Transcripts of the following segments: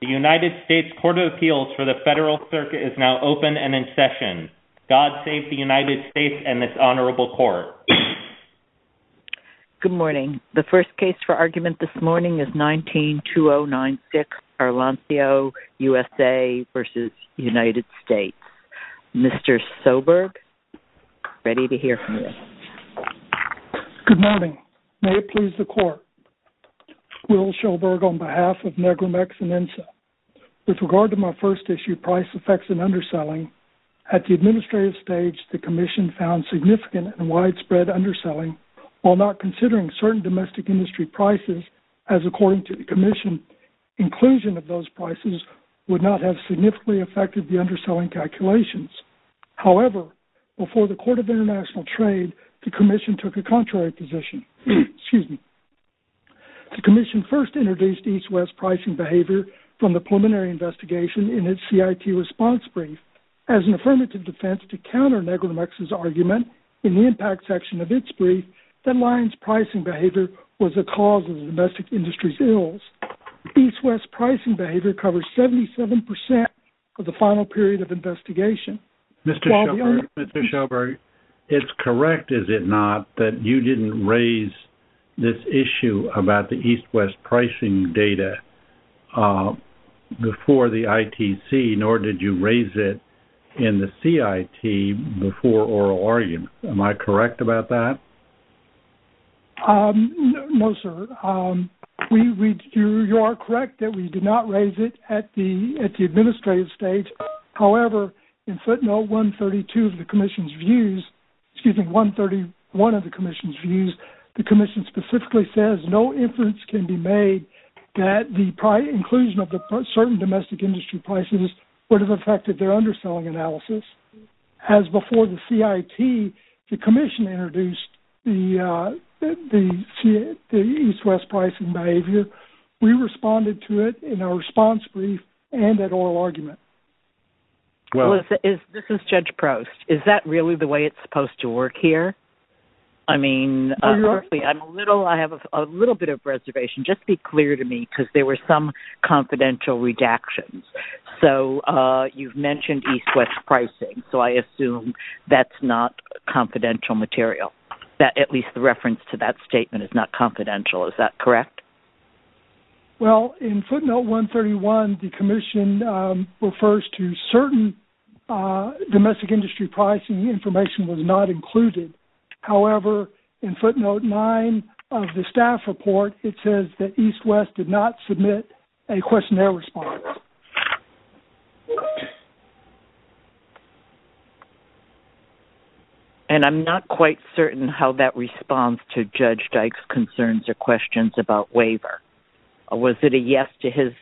The United States Court of Appeals for the Federal Circuit is now open and in session. God save the United States and this Honorable Court. Good morning. The first case for argument this morning is 192096 Arlanxeo USA v. United States. Mr. Soberg, ready to hear from you. Good morning. May it please the Court. Will Soberg on behalf of Negromex and INSA. With regard to my first issue, price effects and underselling, at the administrative stage the Commission found significant and widespread underselling, while not considering certain domestic industry prices as according to the Commission, inclusion of those prices would not have significantly affected the underselling calculations. However, before the Court of Appeals, the Commission took a contrary position. Excuse me. The Commission first introduced East-West pricing behavior from the preliminary investigation in its CIT response brief as an affirmative defense to counter Negromex's argument in the impact section of its brief that Lion's pricing behavior was a cause of the domestic industry's ills. East-West pricing behavior covers 77% of the final period of investigation. Mr. Soberg, it's correct, is it not, that you didn't raise this issue about the East-West pricing data before the ITC, nor did you raise it in the CIT before oral argument. Am I correct about that? No, sir. You are correct that we did not raise it at the administrative stage. However, in Section 131 of the Commission's views, the Commission specifically says no inference can be made that the inclusion of certain domestic industry prices would have affected their underselling analysis. As before the CIT, the Commission introduced the East-West pricing behavior. We responded to it in our response brief and at oral argument. This is Judge Prost. Is that really the way it's supposed to work here? I mean, I have a little bit of reservation. Just be clear to me, because there were some confidential redactions. So you've mentioned East-West pricing, so I assume that's not confidential material, that at least the reference to that statement is not confidential. Is that correct? Well, in footnote 131, the Commission refers to certain domestic industry pricing information was not included. However, in footnote 9 of the staff report, it says that East-West did not submit a questionnaire response. And I'm not quite certain how that responds to Judge Dyke's concerns or questions about the waiver. Was it a yes to his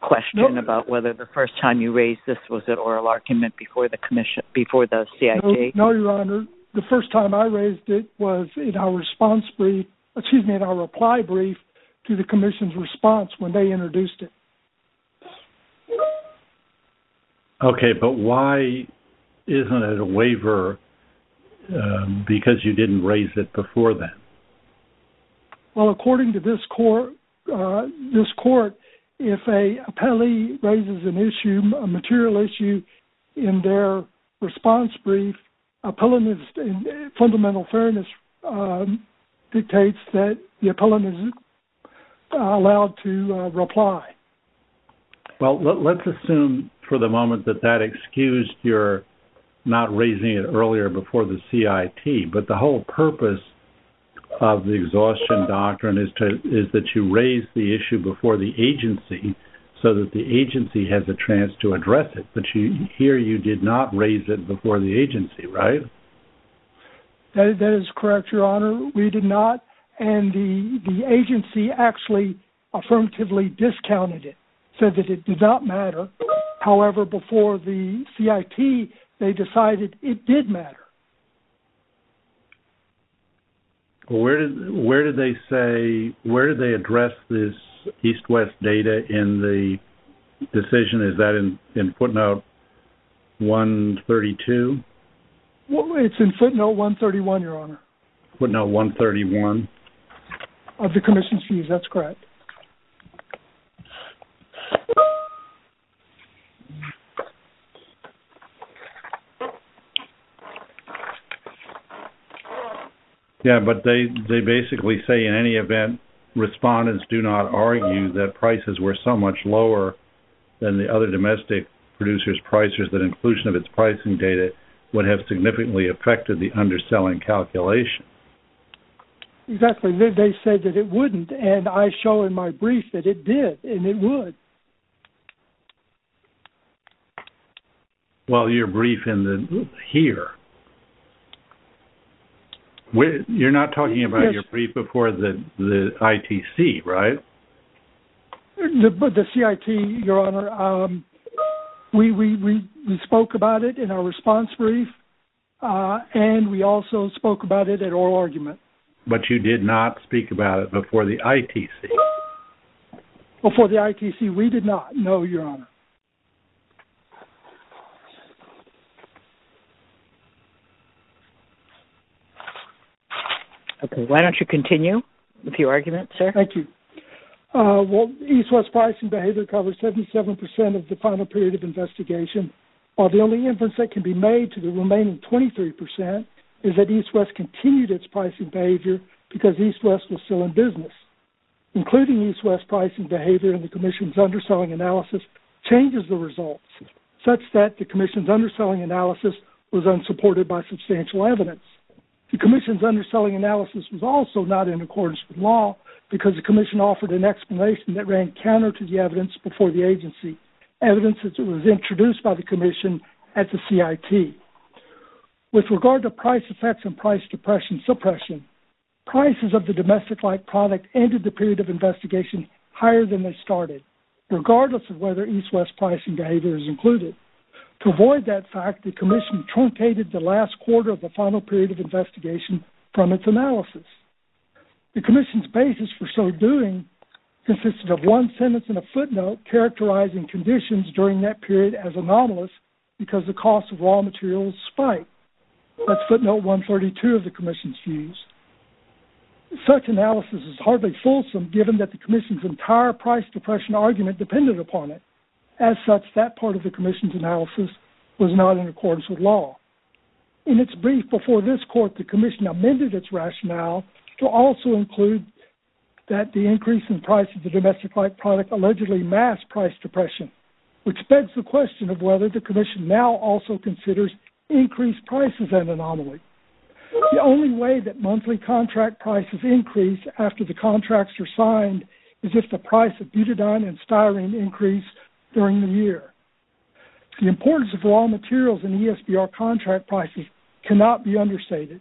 question about whether the first time you raised this was at oral argument before the CIT? No, Your Honor. The first time I raised it was in our reply brief to the Commission's response when they introduced it. Okay, but why isn't it a waiver because you didn't raise it before then? Well, according to this court, if an appellee raises an issue, a material issue, in their response brief, appellant in fundamental fairness dictates that the appellant is allowed to reply. Well, let's assume for the moment that that excused your not raising it earlier before the CIT. But the whole purpose of the exhaustion doctrine is that you raise the issue before the agency so that the agency has a chance to address it. But here you did not raise it before the agency, right? That is correct, Your Honor. We did not. And the agency actually affirmatively discounted it, said that it did not matter. However, before the CIT, they decided it did matter. Well, where did they address this East-West data in the decision? Is that in footnote 132? It's in footnote 131, Your Honor. Footnote 131? Of the commission's views. That's correct. Yes, but they basically say in any event, respondents do not argue that prices were so much lower than the other domestic producers' prices that inclusion of its pricing data would have significantly affected the underselling calculation. Exactly. They said that it wouldn't, and I show in my brief that it did, and it would. Well, your brief in the here. You're not talking about your brief before the ITC, right? The CIT, Your Honor. We spoke about it in our response brief, and we also spoke about it at oral argument. But you did not speak about it before the ITC? Before the ITC, we did not, no, Your Honor. Okay, why don't you continue with your argument, sir? Thank you. Well, East-West pricing behavior covers 77% of the final period of investigation, while the only inference that can be made to the remaining 23% is that East-West continued its pricing behavior because East-West was still in business. Including East-West pricing behavior in the commission's underselling analysis changes the results, such that the commission's underselling analysis was unsupported by substantial evidence. The commission's because the commission offered an explanation that ran counter to the evidence before the agency, evidence that was introduced by the commission at the CIT. With regard to price effects and price depression suppression, prices of the domestic-like product ended the period of investigation higher than they started, regardless of whether East-West pricing behavior is included. To avoid that fact, the commission truncated the last quarter of the final period of investigation from its analysis. The commission's basis for so doing consisted of one sentence and a footnote characterizing conditions during that period as anomalous because the cost of raw materials spiked. That's footnote 132 of the commission's views. Such analysis is hardly fulsome, given that the commission's entire price depression argument depended upon it. As such, that part of the commission's analysis was not in accordance with law. In its brief before this court, the commission amended its rationale to also include that the increase in price of the domestic-like product allegedly masked price depression, which begs the question of whether the commission now also considers increased prices an anomaly. The only way that monthly contract prices increase after the contracts are signed is if the price of butadiene and styrene increase during the year. The importance of raw materials in ESBR contract prices cannot be understated.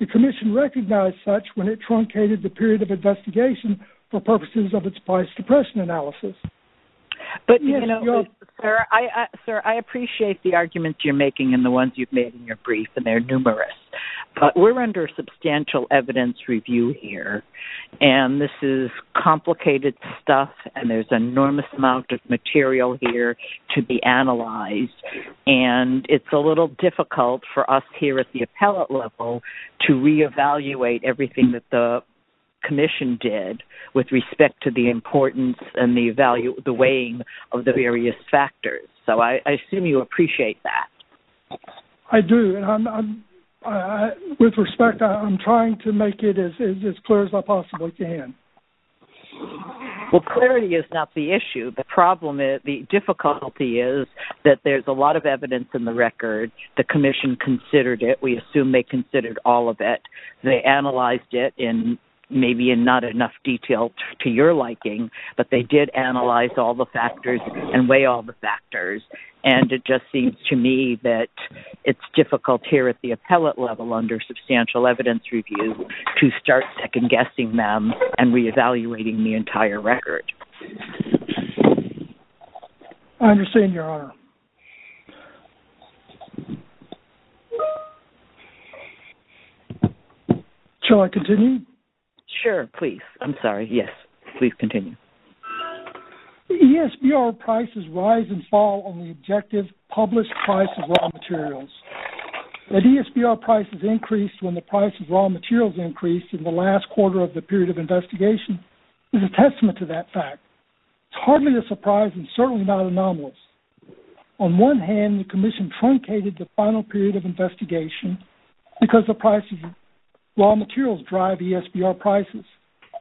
The commission recognized such when it truncated the period of investigation for purposes of its price depression analysis. But, you know, sir, I appreciate the arguments you're making and the ones you've made in your brief, and they're numerous, but we're under substantial evidence review here, and this is complicated stuff, and there's an enormous amount of material here to be analyzed, and it's a little difficult for us here at the appellate level to reevaluate everything that the commission did with respect to the importance and the weighing of the various factors. So I assume you appreciate that. I do, and with respect, I'm trying to make it as clear as I possibly can. Well, clarity is not the issue. The problem is, the difficulty is that there's a lot of evidence in the record. The commission considered it. We assume they considered all of it. They analyzed it in maybe in not enough detail to your liking, but they did analyze all the factors and weigh all the factors, and it just seems to me that it's difficult here at the appellate level under substantial evidence review to start second-guessing them and reevaluating the entire record. I understand, Your Honor. Shall I continue? Sure, please. I'm sorry. Yes, please continue. ESBR prices rise and fall on the objective published price of raw materials. That ESBR prices increased when the price of raw materials increased in the last quarter of the period of investigation is a testament to that fact. It's hardly a surprise and certainly not anomalous. On one hand, the commission truncated the final period of investigation because the price of raw materials drive ESBR prices.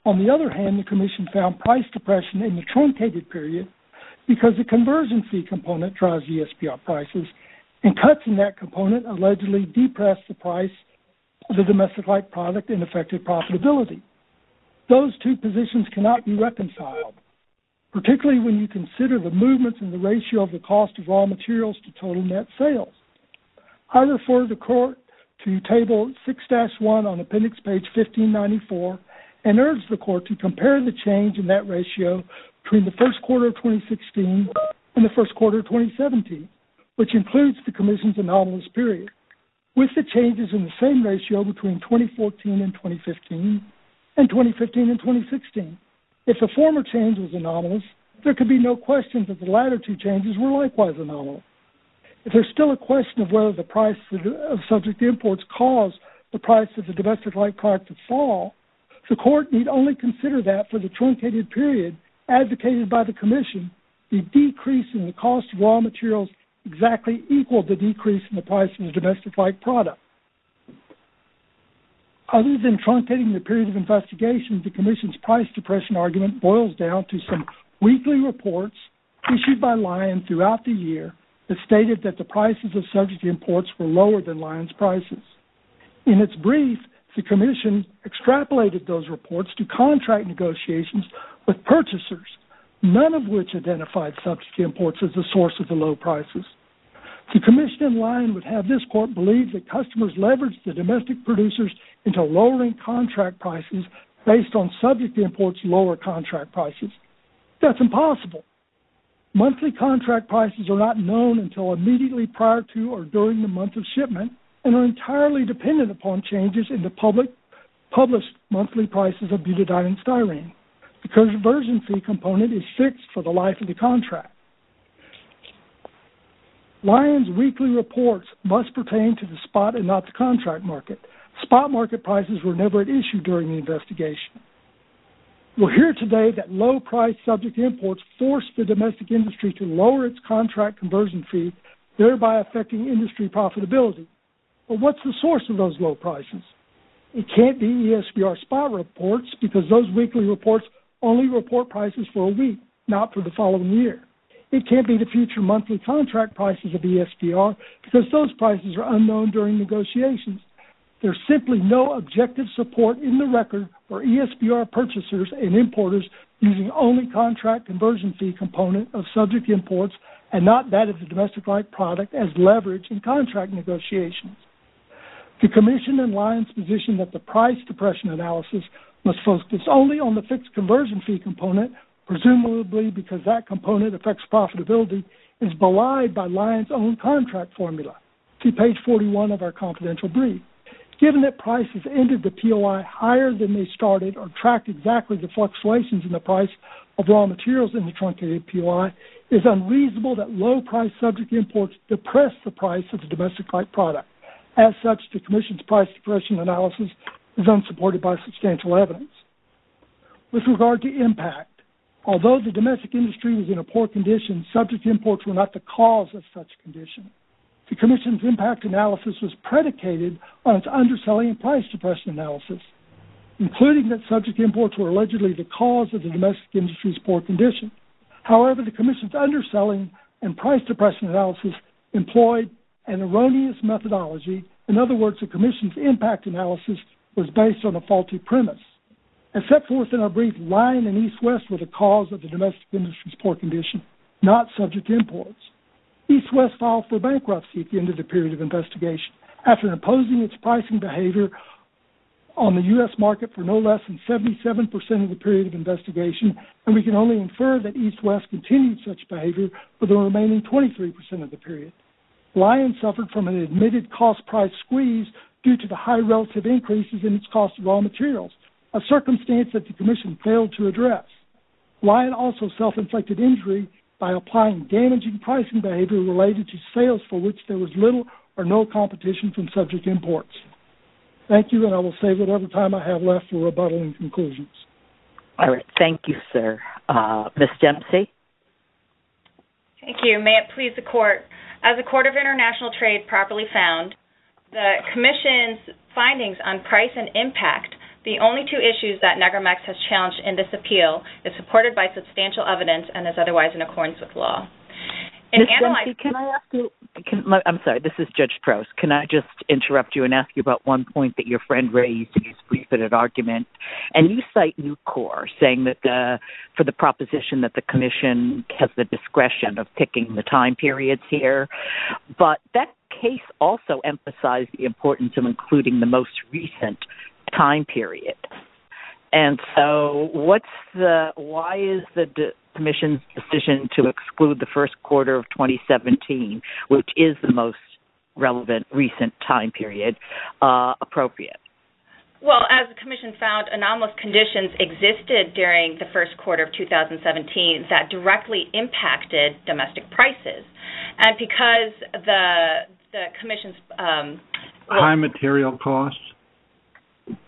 On the other hand, the commission found price depression in the truncated period because the convergency component drives ESBR prices, and cuts in that component allegedly depress the price of the domestic-like product and affected profitability. Those two positions cannot be reconciled, particularly when you consider the movements in the ratio of the cost of raw materials to total net sales. I referred the court to Table 6-1 on Appendix Page 1594 and urged the court to compare the change in that ratio between the first quarter of 2016 and the first quarter of 2017, which includes the commission's anomalous period. With the changes in the same ratio between 2014 and 2015, and 2015 and 2016, if the former change was anomalous, there could be no question that the latter two changes were likewise anomalous. If there's still a question of whether the price of subject imports caused the price of the domestic-like product to decrease in the truncated period advocated by the commission, the decrease in the cost of raw materials exactly equaled the decrease in the price of the domestic-like product. Other than truncating the period of investigation, the commission's price depression argument boils down to some weekly reports issued by Lion throughout the year that stated that the prices of subject imports were lower than Lion's prices. In its brief, the commission extrapolated those reports to contract negotiations with purchasers, none of which identified subject imports as the source of the low prices. The commission in Lion would have this court believe that customers leveraged the domestic producers into lowering contract prices based on subject imports' lower contract prices. That's impossible. Monthly contract prices are not known until immediately prior to or during the month of shipment and are entirely dependent upon changes in the published monthly prices of butadiene and styrene. The conversion fee component is fixed for the life of the contract. Lion's weekly reports must pertain to the spot and not the contract market. Spot market prices were never at issue during the investigation. We'll hear today that low-priced subject imports forced the domestic industry to lower its contract conversion fee, thereby affecting industry profitability. But what's the source of those low prices? It can't be ESPR spot reports because those weekly reports only report prices for a week, not for the following year. It can't be the future monthly contract prices of ESPR because those prices are unknown during negotiations. There's simply no objective support in the record for ESPR purchasers and importers using only contract conversion fee component of subject imports and not that of the domestic-like product as leveraged in contract negotiations. The Commission and Lion's position that the price depression analysis must focus only on the fixed conversion fee component, presumably because that component affects profitability, is belied by Lion's own contract formula. See page 41 of our confidential brief. Given that prices ended the POI higher than they started or tracked exactly the fluctuations in the price of raw materials in the truncated POI, it's unreasonable that low-priced subject imports depressed the price of the domestic-like product. As such, the Commission's price depression analysis is unsupported by substantial evidence. With regard to impact, although the domestic industry was in a poor condition, subject imports were not the cause of such condition. The Commission's impact analysis was predicated on its underselling price depression analysis, including that subject imports were allegedly the cause of the domestic industry's poor condition. However, the Commission's underselling and price depression analysis employed an erroneous methodology. In other words, the Commission's impact analysis was based on a faulty premise. Except for within our brief, Lion and EastWest were the cause of the domestic industry's poor condition, not subject imports. EastWest filed for bankruptcy at the end of the period of investigation. After imposing its pricing behavior on the U.S. market for no less than 77% of the period of investigation, and we can only infer that EastWest continued such behavior for the remaining 23% of the period. Lion suffered from an admitted cost-price squeeze due to the high relative increases in its cost of raw materials, a circumstance that the Commission failed to address. Lion also self-inflicted injury by applying damaging pricing behavior related to sales for which there was little or no competition from subject imports. Thank you, and I will save whatever time I have left for rebuttal and conclusions. All right. Thank you, sir. Ms. Dempsey? Thank you. May it please the Court, as the Court of International Trade properly found, the Commission's findings on price and impact, the only two issues that NEGRMAX has challenged in this appeal, is supported by substantial evidence and is otherwise in accordance with law. Ms. Dempsey, can I ask you... I'm sorry, this is Judge Prowse. Can I just interrupt you and ask you about one point that your friend raised in his pre-fitted argument? And you cite NUCCOR saying that for the proposition that the Commission has the discretion of picking the time periods here, but that case also emphasized the importance of including the most recent time period. And so what's the... Why is the Commission's decision to exclude the first quarter of 2017 which is the most relevant recent time period appropriate? Well, as the Commission found, anomalous conditions existed during the first quarter of 2017 that directly impacted domestic prices. And because the Commission's... High material costs?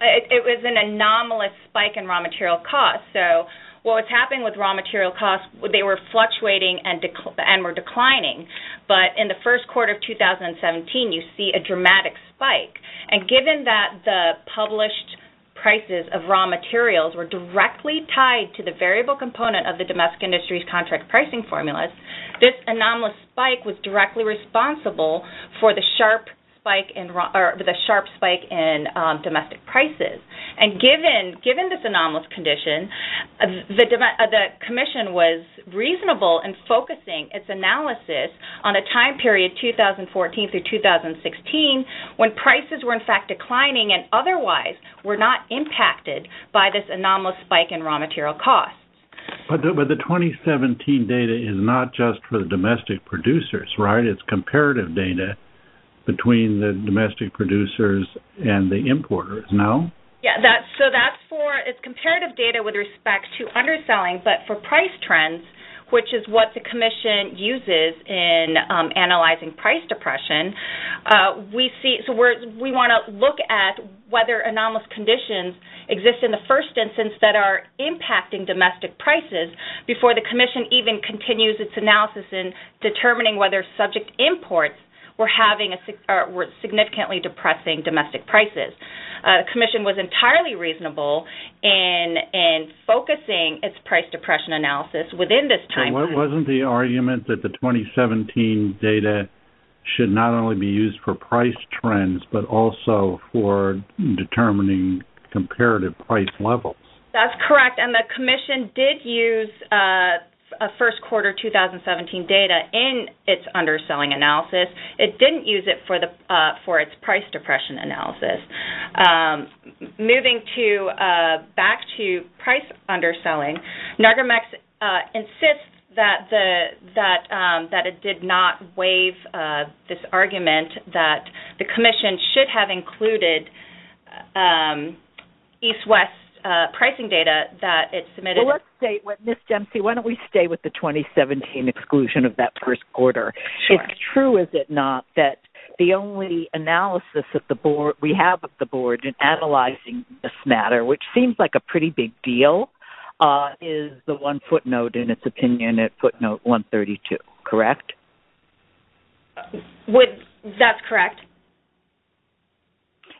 It was an anomalous spike in raw material costs. So what was happening with raw material costs? They were fluctuating and were declining. But in the first quarter of 2017, you see a dramatic spike. And given that the published prices of raw materials were directly tied to the variable component of the domestic industry's contract pricing formulas, this anomalous spike was directly responsible for the sharp spike in domestic prices. And given this anomalous condition, the Commission was reasonable in focusing its analysis on a time period 2014 through 2016 when prices were in fact declining and otherwise were not impacted by this anomalous spike in raw material costs. But the 2017 data is not just for the domestic producers, right? It's comparative data between the domestic producers and the importers, no? Yes. So that's for... It's comparative data with respect to underselling. But for price trends, which is what the Commission uses in analyzing price depression, we want to look at whether anomalous conditions exist in the first instance that are impacting domestic prices before the Commission even continues its analysis in determining whether subject imports were significantly depressing domestic prices. The Commission was entirely reasonable in focusing its price depression analysis within this time period. So wasn't the argument that the 2017 data should not only be used for price trends, but also for determining comparative price levels? That's correct. And the Commission did use first quarter 2017 data in its underselling analysis. It didn't use it for its price depression analysis. Moving back to price underselling, Nargimax insists that it did not waive this argument that the Commission should have included East-West pricing data that it submitted. Well, let's stay with... Ms. Dempsey, why don't we stay with the 2017 exclusion of that first quarter? Sure. It's true, is it not, that the only analysis that we have of the Board in analyzing this matter, which seems like a pretty big deal, is the one footnote in its opinion at footnote 132, correct? That's correct.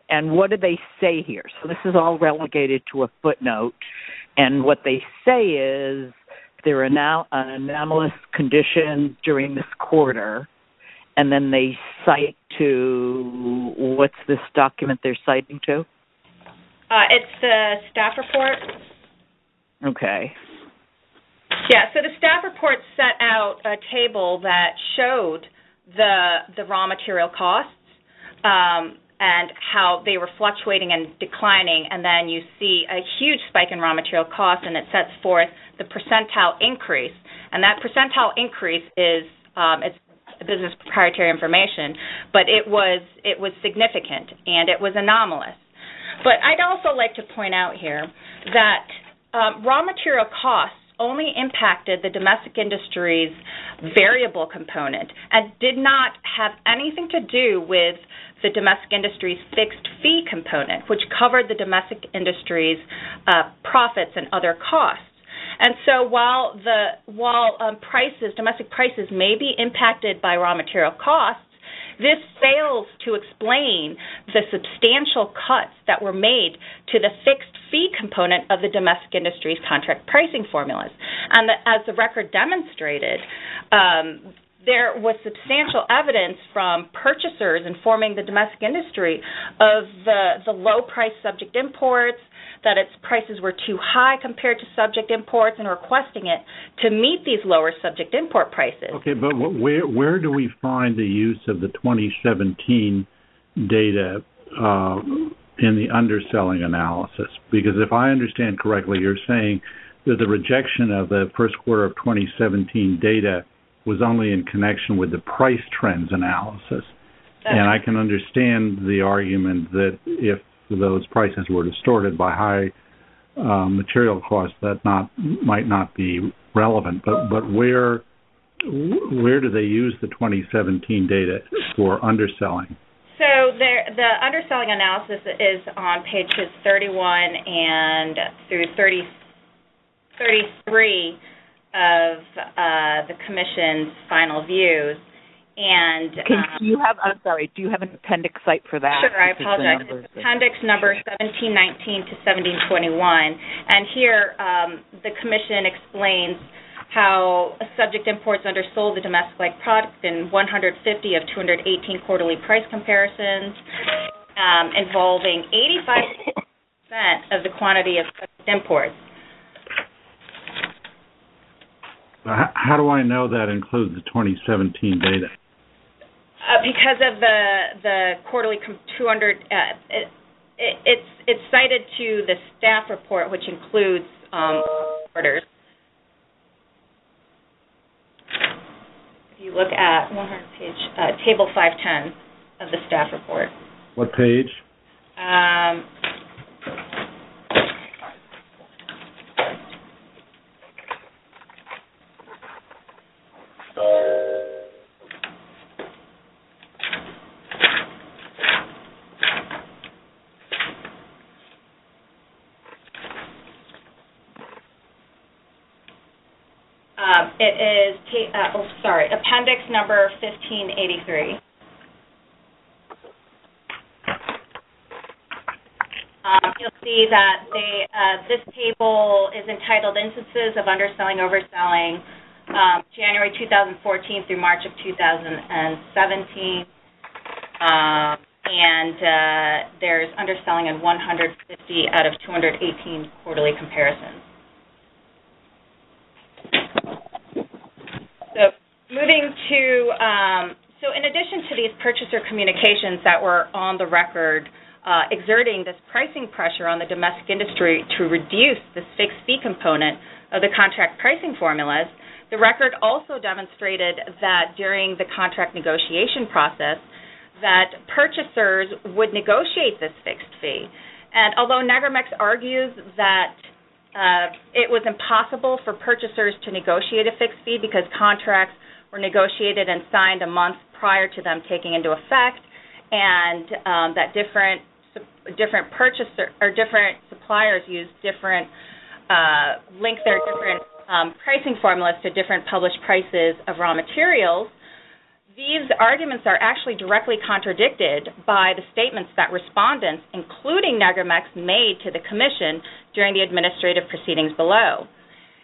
And what did they say here? So this is all relegated to a footnote, and what they say is there are now anomalous conditions during this quarter, and then they cite to, what's this document they're citing to? It's the staff report. Okay. Yeah, so the staff report set out a table that showed the raw material costs and how they were fluctuating and declining, and then you see a huge spike in raw material costs, and it sets forth the percentile increase. And that percentile increase is business proprietary information, but it was significant and it was anomalous. But I'd also like to point out here that raw material costs only impacted the domestic industry's variable component and did not have anything to do with the domestic industry's fixed fee component, which covered the domestic industry's profits and other costs. And so while domestic prices may be impacted by raw material costs, this fails to explain the substantial cuts that were made to the fixed fee component of the domestic industry's contract pricing formulas. And as the record demonstrated, there was substantial evidence from purchasers informing the domestic industry of the low-priced subject imports, that its prices were too high compared to subject imports, and requesting it to meet these lower subject import prices. Okay, but where do we find the use of the 2017 data in the underselling analysis? Because if I understand correctly, you're saying that the rejection of the first quarter of 2017 data was only in connection with the price trends analysis. And I can understand the argument that if those prices were distorted by high material costs, that might not be relevant. But where do they use the 2017 data for underselling? So the underselling analysis is on pages 31 and through 33 of the commission's final views. I'm sorry, do you have an appendix cite for that? Sure, I apologize. Appendix number 1719 to 1721. And here, the commission explains how subject imports undersold the domestic-like product in 150 of 218 quarterly price comparisons, involving 85 percent of the quantity of subject imports. How do I know that includes the 2017 data? Because of the quarterly 200. It's cited to the staff report, which includes If you look at table 510 of the staff report. What page? It is, sorry, appendix number 1583. You'll see that this table is entitled instances of underselling, overselling, January 2014 through March of 2017. And there's underselling in 150 out of 218 quarterly comparisons. So in addition to these purchaser communications that were on the record, exerting this pricing pressure on the domestic industry to reduce the fixed fee component of the contract pricing formulas, the record also demonstrated that during the contract negotiation process, that purchasers would negotiate this fixed fee. And although Niagara-Mex argues that it was impossible for purchasers to negotiate a fixed fee because contracts were negotiated and signed a month prior to them taking into effect, and that different suppliers used different pricing formulas to different published prices of raw materials, these arguments are actually directly contradicted by the statements that respondents, including Niagara-Mex, made to the commission during the administrative proceedings below.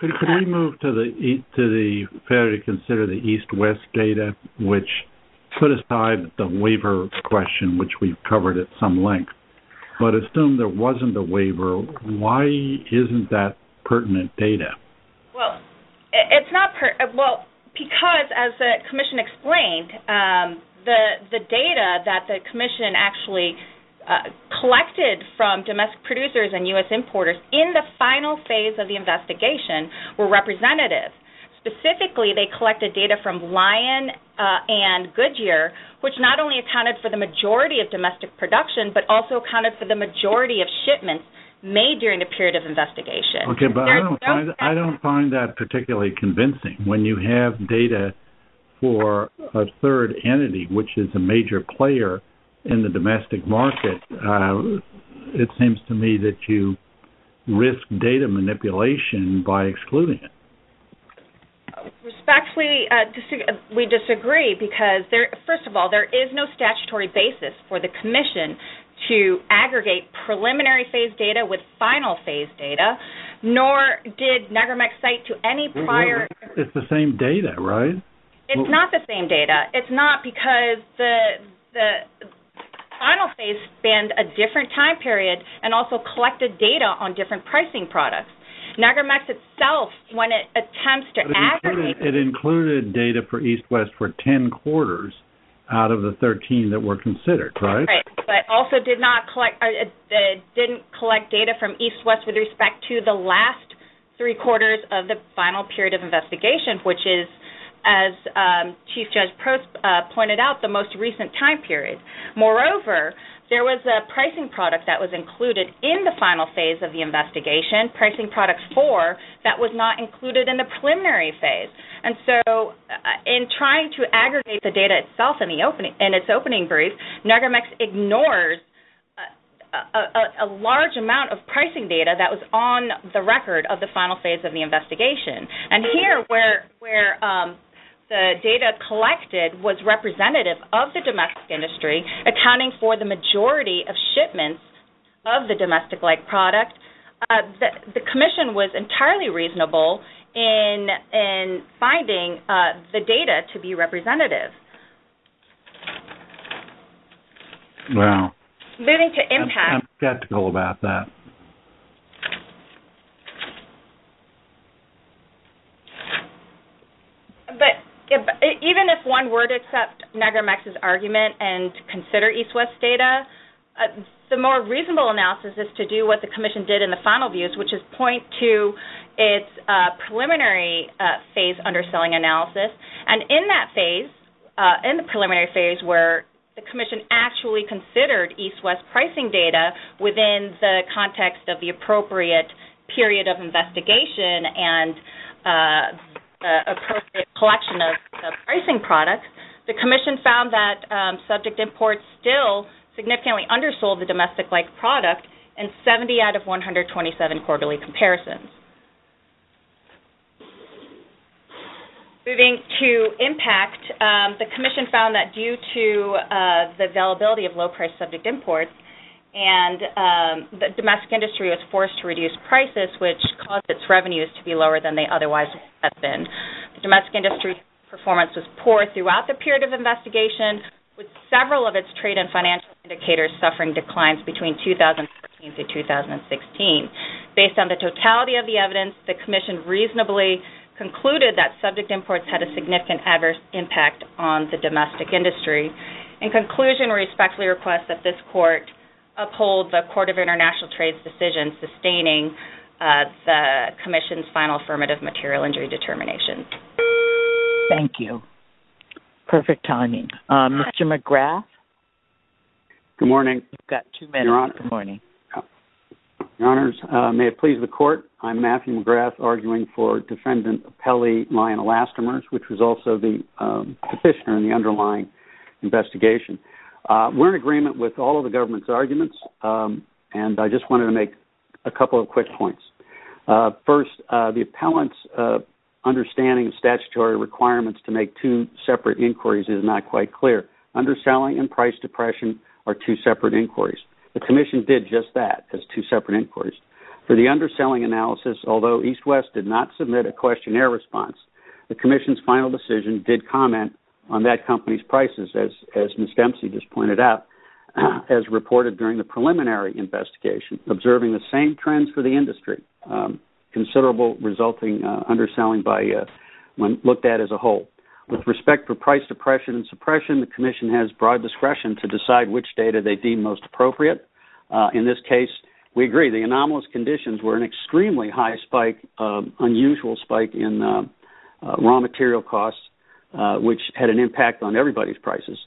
Could we move to the fair to consider the East-West data, which put aside the waiver question, which we've covered at some length, but assume there wasn't a waiver, why isn't that pertinent data? Well, because as the commission explained, the data that the commission actually collected from domestic producers and U.S. importers in the final phase of the investigation were representative. Specifically, they collected data from Lion and Goodyear, which not only accounted for the majority of domestic production, but also accounted for the majority of shipments made during the period of investigation. Okay, but I don't find that particularly convincing. When you have data for a third entity, which is a major player in the domestic market, it seems to me that you risk data manipulation by excluding it. Respectfully, we disagree because, first of all, there is no statutory basis for the commission to aggregate preliminary phase data with final phase data, nor did Niagara-Mex cite to any prior... It's the same data, right? It's not the same data. It's not because the final phase spanned a different time period and also collected data on different pricing products. Niagara-Mex itself, when it attempts to aggregate... It included data for East-West for ten quarters out of the 13 that were considered, right? Right, but also didn't collect data from East-West with respect to the last three quarters of the final period of investigation, which is, as Chief Judge Post pointed out, the most recent time period. Moreover, there was a pricing product that was included in the final phase of the investigation, Pricing Product 4, that was not included in the preliminary phase. And so, in trying to aggregate the data itself in its opening brief, Niagara-Mex ignores a large amount of pricing data that was on the record of the final phase of the investigation. And here, where the data collected was representative of the domestic industry, accounting for the majority of shipments of the domestic-like product, the commission was entirely reasonable in finding the data to be representative. Wow. Moving to impact... I'm skeptical about that. But even if one were to accept Niagara-Mex's argument and consider East-West data, the more reasonable analysis is to do what the commission did in the final views, which is to point to its preliminary phase underselling analysis. And in that phase, in the preliminary phase where the commission actually considered East-West pricing data within the context of the appropriate period of investigation and appropriate collection of pricing products, the commission found that subject imports still significantly undersold the domestic-like product in 70 out of 127 quarterly comparisons. Moving to impact, the commission found that due to the availability of low-priced subject imports, the domestic industry was forced to reduce prices, which caused its revenues to be lower than they otherwise have been. The domestic industry performance was poor throughout the period of investigation, with Based on the totality of the evidence, the commission reasonably concluded that subject imports had a significant adverse impact on the domestic industry. In conclusion, we respectfully request that this court uphold the Court of International Trade's decision sustaining the commission's final affirmative material injury determination. Thank you. Perfect timing. Mr. McGrath? Good morning. You've got two minutes in the morning. Your Honors, may it please the Court, I'm Matthew McGrath, arguing for Defendant Appellee Lyon-Elastomers, which was also the petitioner in the underlying investigation. We're in agreement with all of the government's arguments, and I just wanted to make a couple of quick points. First, the appellant's understanding of statutory requirements to make two separate inquiries is not quite clear. Underselling and price depression are two separate inquiries. The commission did just that, as two separate inquiries. For the underselling analysis, although EastWest did not submit a questionnaire response, the commission's final decision did comment on that company's prices, as Ms. Dempsey just pointed out, as reported during the preliminary investigation, observing the same trends for the industry, considerable resulting underselling when looked at as a whole. With respect for price depression and suppression, the commission has broad discretion to decide which data they deem most appropriate. In this case, we agree the anomalous conditions were an extremely high spike, unusual spike in raw material costs, which had an impact on everybody's prices.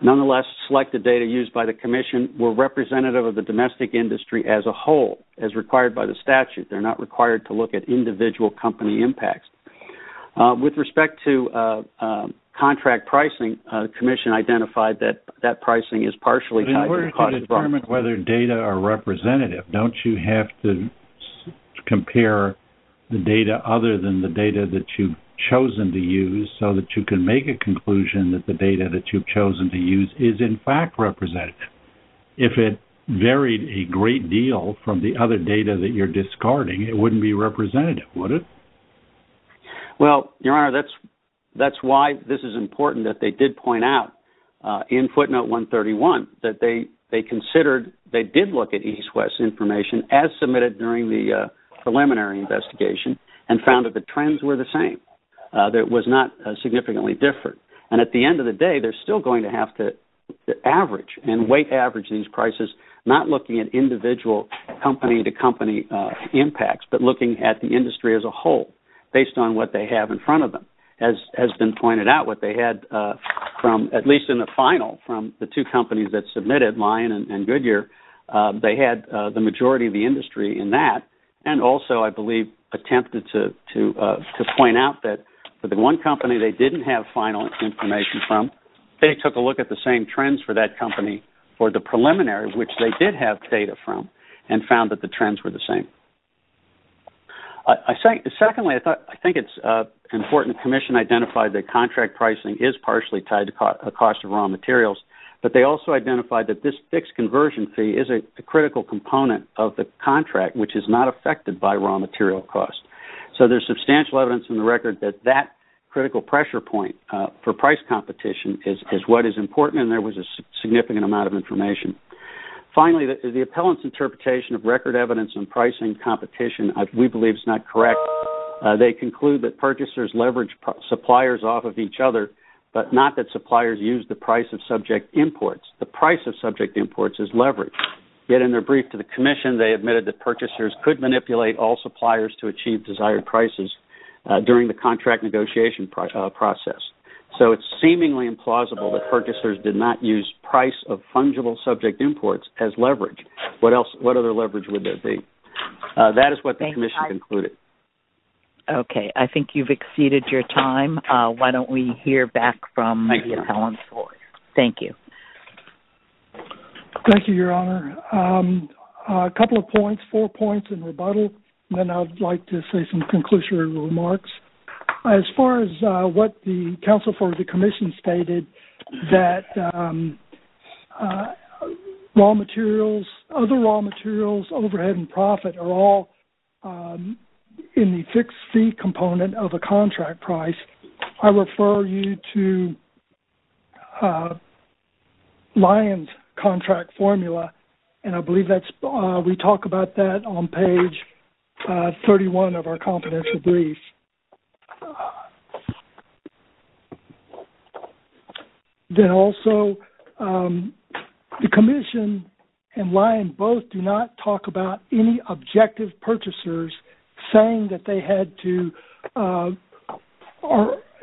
Nonetheless, selected data used by the commission were representative of the domestic industry as a whole, as required by the statute. They're not required to look at individual company impacts. With respect to contract pricing, the commission identified that that pricing is partially tied to the cost department. In order to determine whether data are representative, don't you have to compare the data other than the data that you've chosen to use so that you can make a conclusion that the other data that you're discarding, it wouldn't be representative, would it? Well, Your Honor, that's why this is important that they did point out in footnote 131 that they considered, they did look at East-West information as submitted during the preliminary investigation and found that the trends were the same, that it was not significantly different. And at the end of the day, they're still going to have to average and weight average these individual company-to-company impacts, but looking at the industry as a whole, based on what they have in front of them. As has been pointed out, what they had from, at least in the final, from the two companies that submitted, Lion and Goodyear, they had the majority of the industry in that, and also, I believe, attempted to point out that for the one company they didn't have final information from, they took a look at the same trends for that company for the preliminary, which they did have data from, and found that the trends were the same. Secondly, I think it's important the commission identified that contract pricing is partially tied to cost of raw materials, but they also identified that this fixed conversion fee is a critical component of the contract, which is not affected by raw material cost. So there's substantial evidence in the record that that critical pressure point for price competition is what is important, and there was a significant amount of information. Finally, the appellant's interpretation of record evidence in pricing competition, we believe, is not correct. They conclude that purchasers leverage suppliers off of each other, but not that suppliers use the price of subject imports. The price of subject imports is leveraged. Yet in their brief to the commission, they admitted that purchasers could manipulate all suppliers to achieve desired prices during the contract negotiation process. So it's seemingly implausible that purchasers did not use price of fungible subject imports as leverage. What other leverage would there be? That is what the commission concluded. Okay. I think you've exceeded your time. Why don't we hear back from the appellant. Thank you. Thank you, Your Honor. A couple of points, four points in rebuttal, and then I'd like to say some conclusionary remarks. As far as what the counsel for the commission stated that raw materials, other raw materials, overhead, and profit are all in the fixed fee component of a contract price, I refer you to Lyon's contract formula, and I believe we talk about that on page 31 of our confidential brief. Then also, the commission and Lyon both do not talk about any objective purchasers saying that they had to,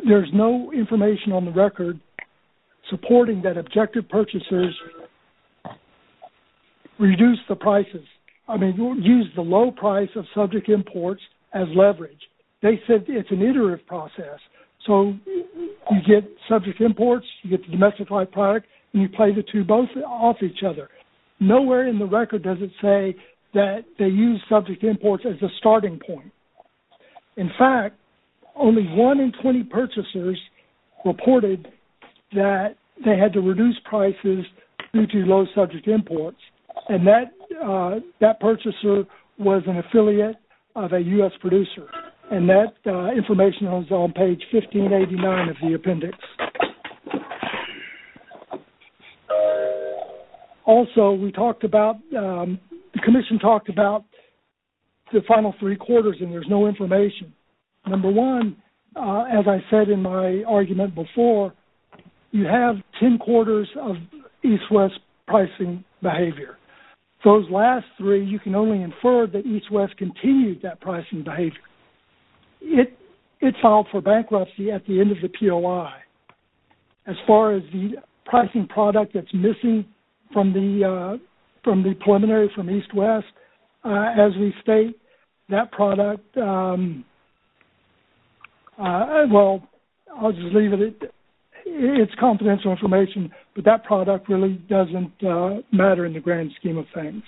there's no information on the record supporting that objective purchasers reduce the prices, I mean, use the low price of subject imports as leverage. They said it's an iterative process. So you get subject imports, you get the domestic high product, and you pay the two both off each other. Nowhere in the record does it say that they use subject imports as a starting point. In fact, only one in 20 purchasers reported that they had to reduce prices due to low subject imports, and that purchaser was an affiliate of a U.S. producer, and that information is on page 1589 of the appendix. Also, we talked about, the commission talked about the final three quarters, and there's no information. Number one, as I said in my argument before, you have ten quarters of East-West pricing behavior. Those last three, you can only infer that East-West continued that pricing behavior. It filed for bankruptcy at the end of the POI. As far as the pricing product that's missing from the preliminary from East-West, as we state, that product, well, I'll just leave it. It's confidential information, but that product really doesn't matter in the grand scheme of things.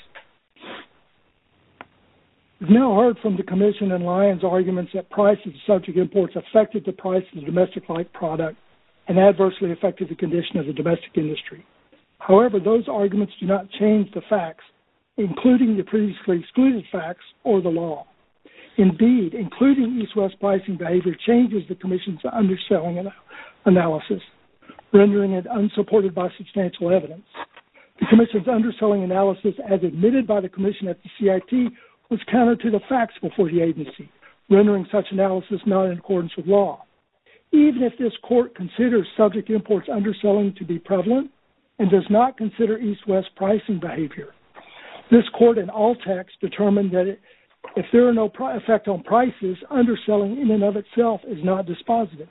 We've now heard from the commission and Lyon's arguments that prices of subject imports affected the price of the domestic-like product and adversely affected the condition of the domestic industry. However, those arguments do not change the facts, including the previously excluded facts or the law. Indeed, including East-West pricing behavior changes the commission's underselling analysis, rendering it unsupported by substantial evidence. The commission's underselling analysis, as admitted by the commission at the CIT, was counter to the Even if this court considers subject imports underselling to be prevalent and does not consider East-West pricing behavior, this court in all text determined that if there are no effect on prices, underselling in and of itself is not dispositive.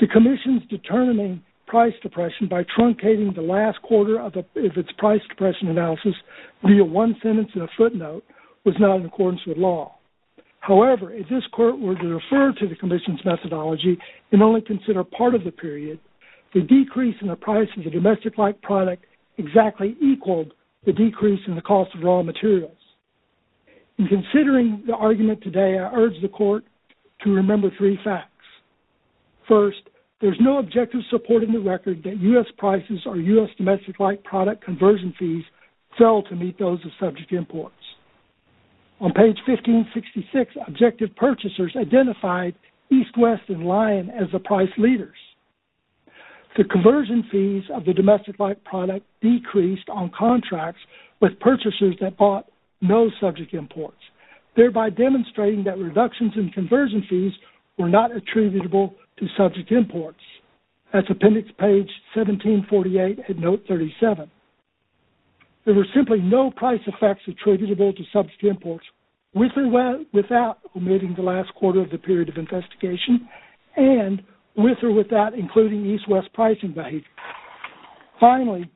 The commission's determining price depression by truncating the last quarter of its price depression analysis via one sentence and a footnote was not in accordance with law. However, if this court were to refer to the commission's methodology and only consider part of the period, the decrease in the price of the domestic-like product exactly equaled the decrease in the cost of raw materials. In considering the argument today, I urge the court to remember three facts. First, there's no objective support in the record that U.S. prices or U.S. domestic-like product conversion fees fell to meet those of subject imports. On page 1566, objective purchasers identified East, West, and Lion as the price leaders. The conversion fees of the domestic-like product decreased on contracts with purchasers that bought no subject imports, thereby demonstrating that reductions in conversion fees were not attributable to subject imports. That's appendix page 1748 at note 37. There were simply no price effects attributable to subject imports with or without omitting the last quarter of the period of investigation and with or without including East, West pricing behavior. Finally,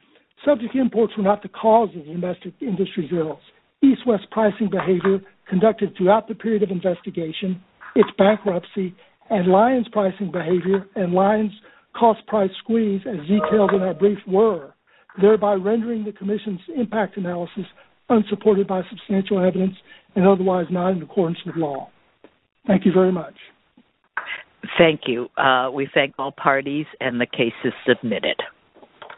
subject imports were not the cause of the domestic industry drills. East, West pricing behavior conducted throughout the period of investigation, its bankruptcy, and Lion's pricing behavior and Lion's cost price squeeze as detailed in our brief were, thereby rendering the commission's impact analysis unsupported by substantial evidence and otherwise not in accordance with law. Thank you very much. Thank you. We thank all parties and the case is submitted.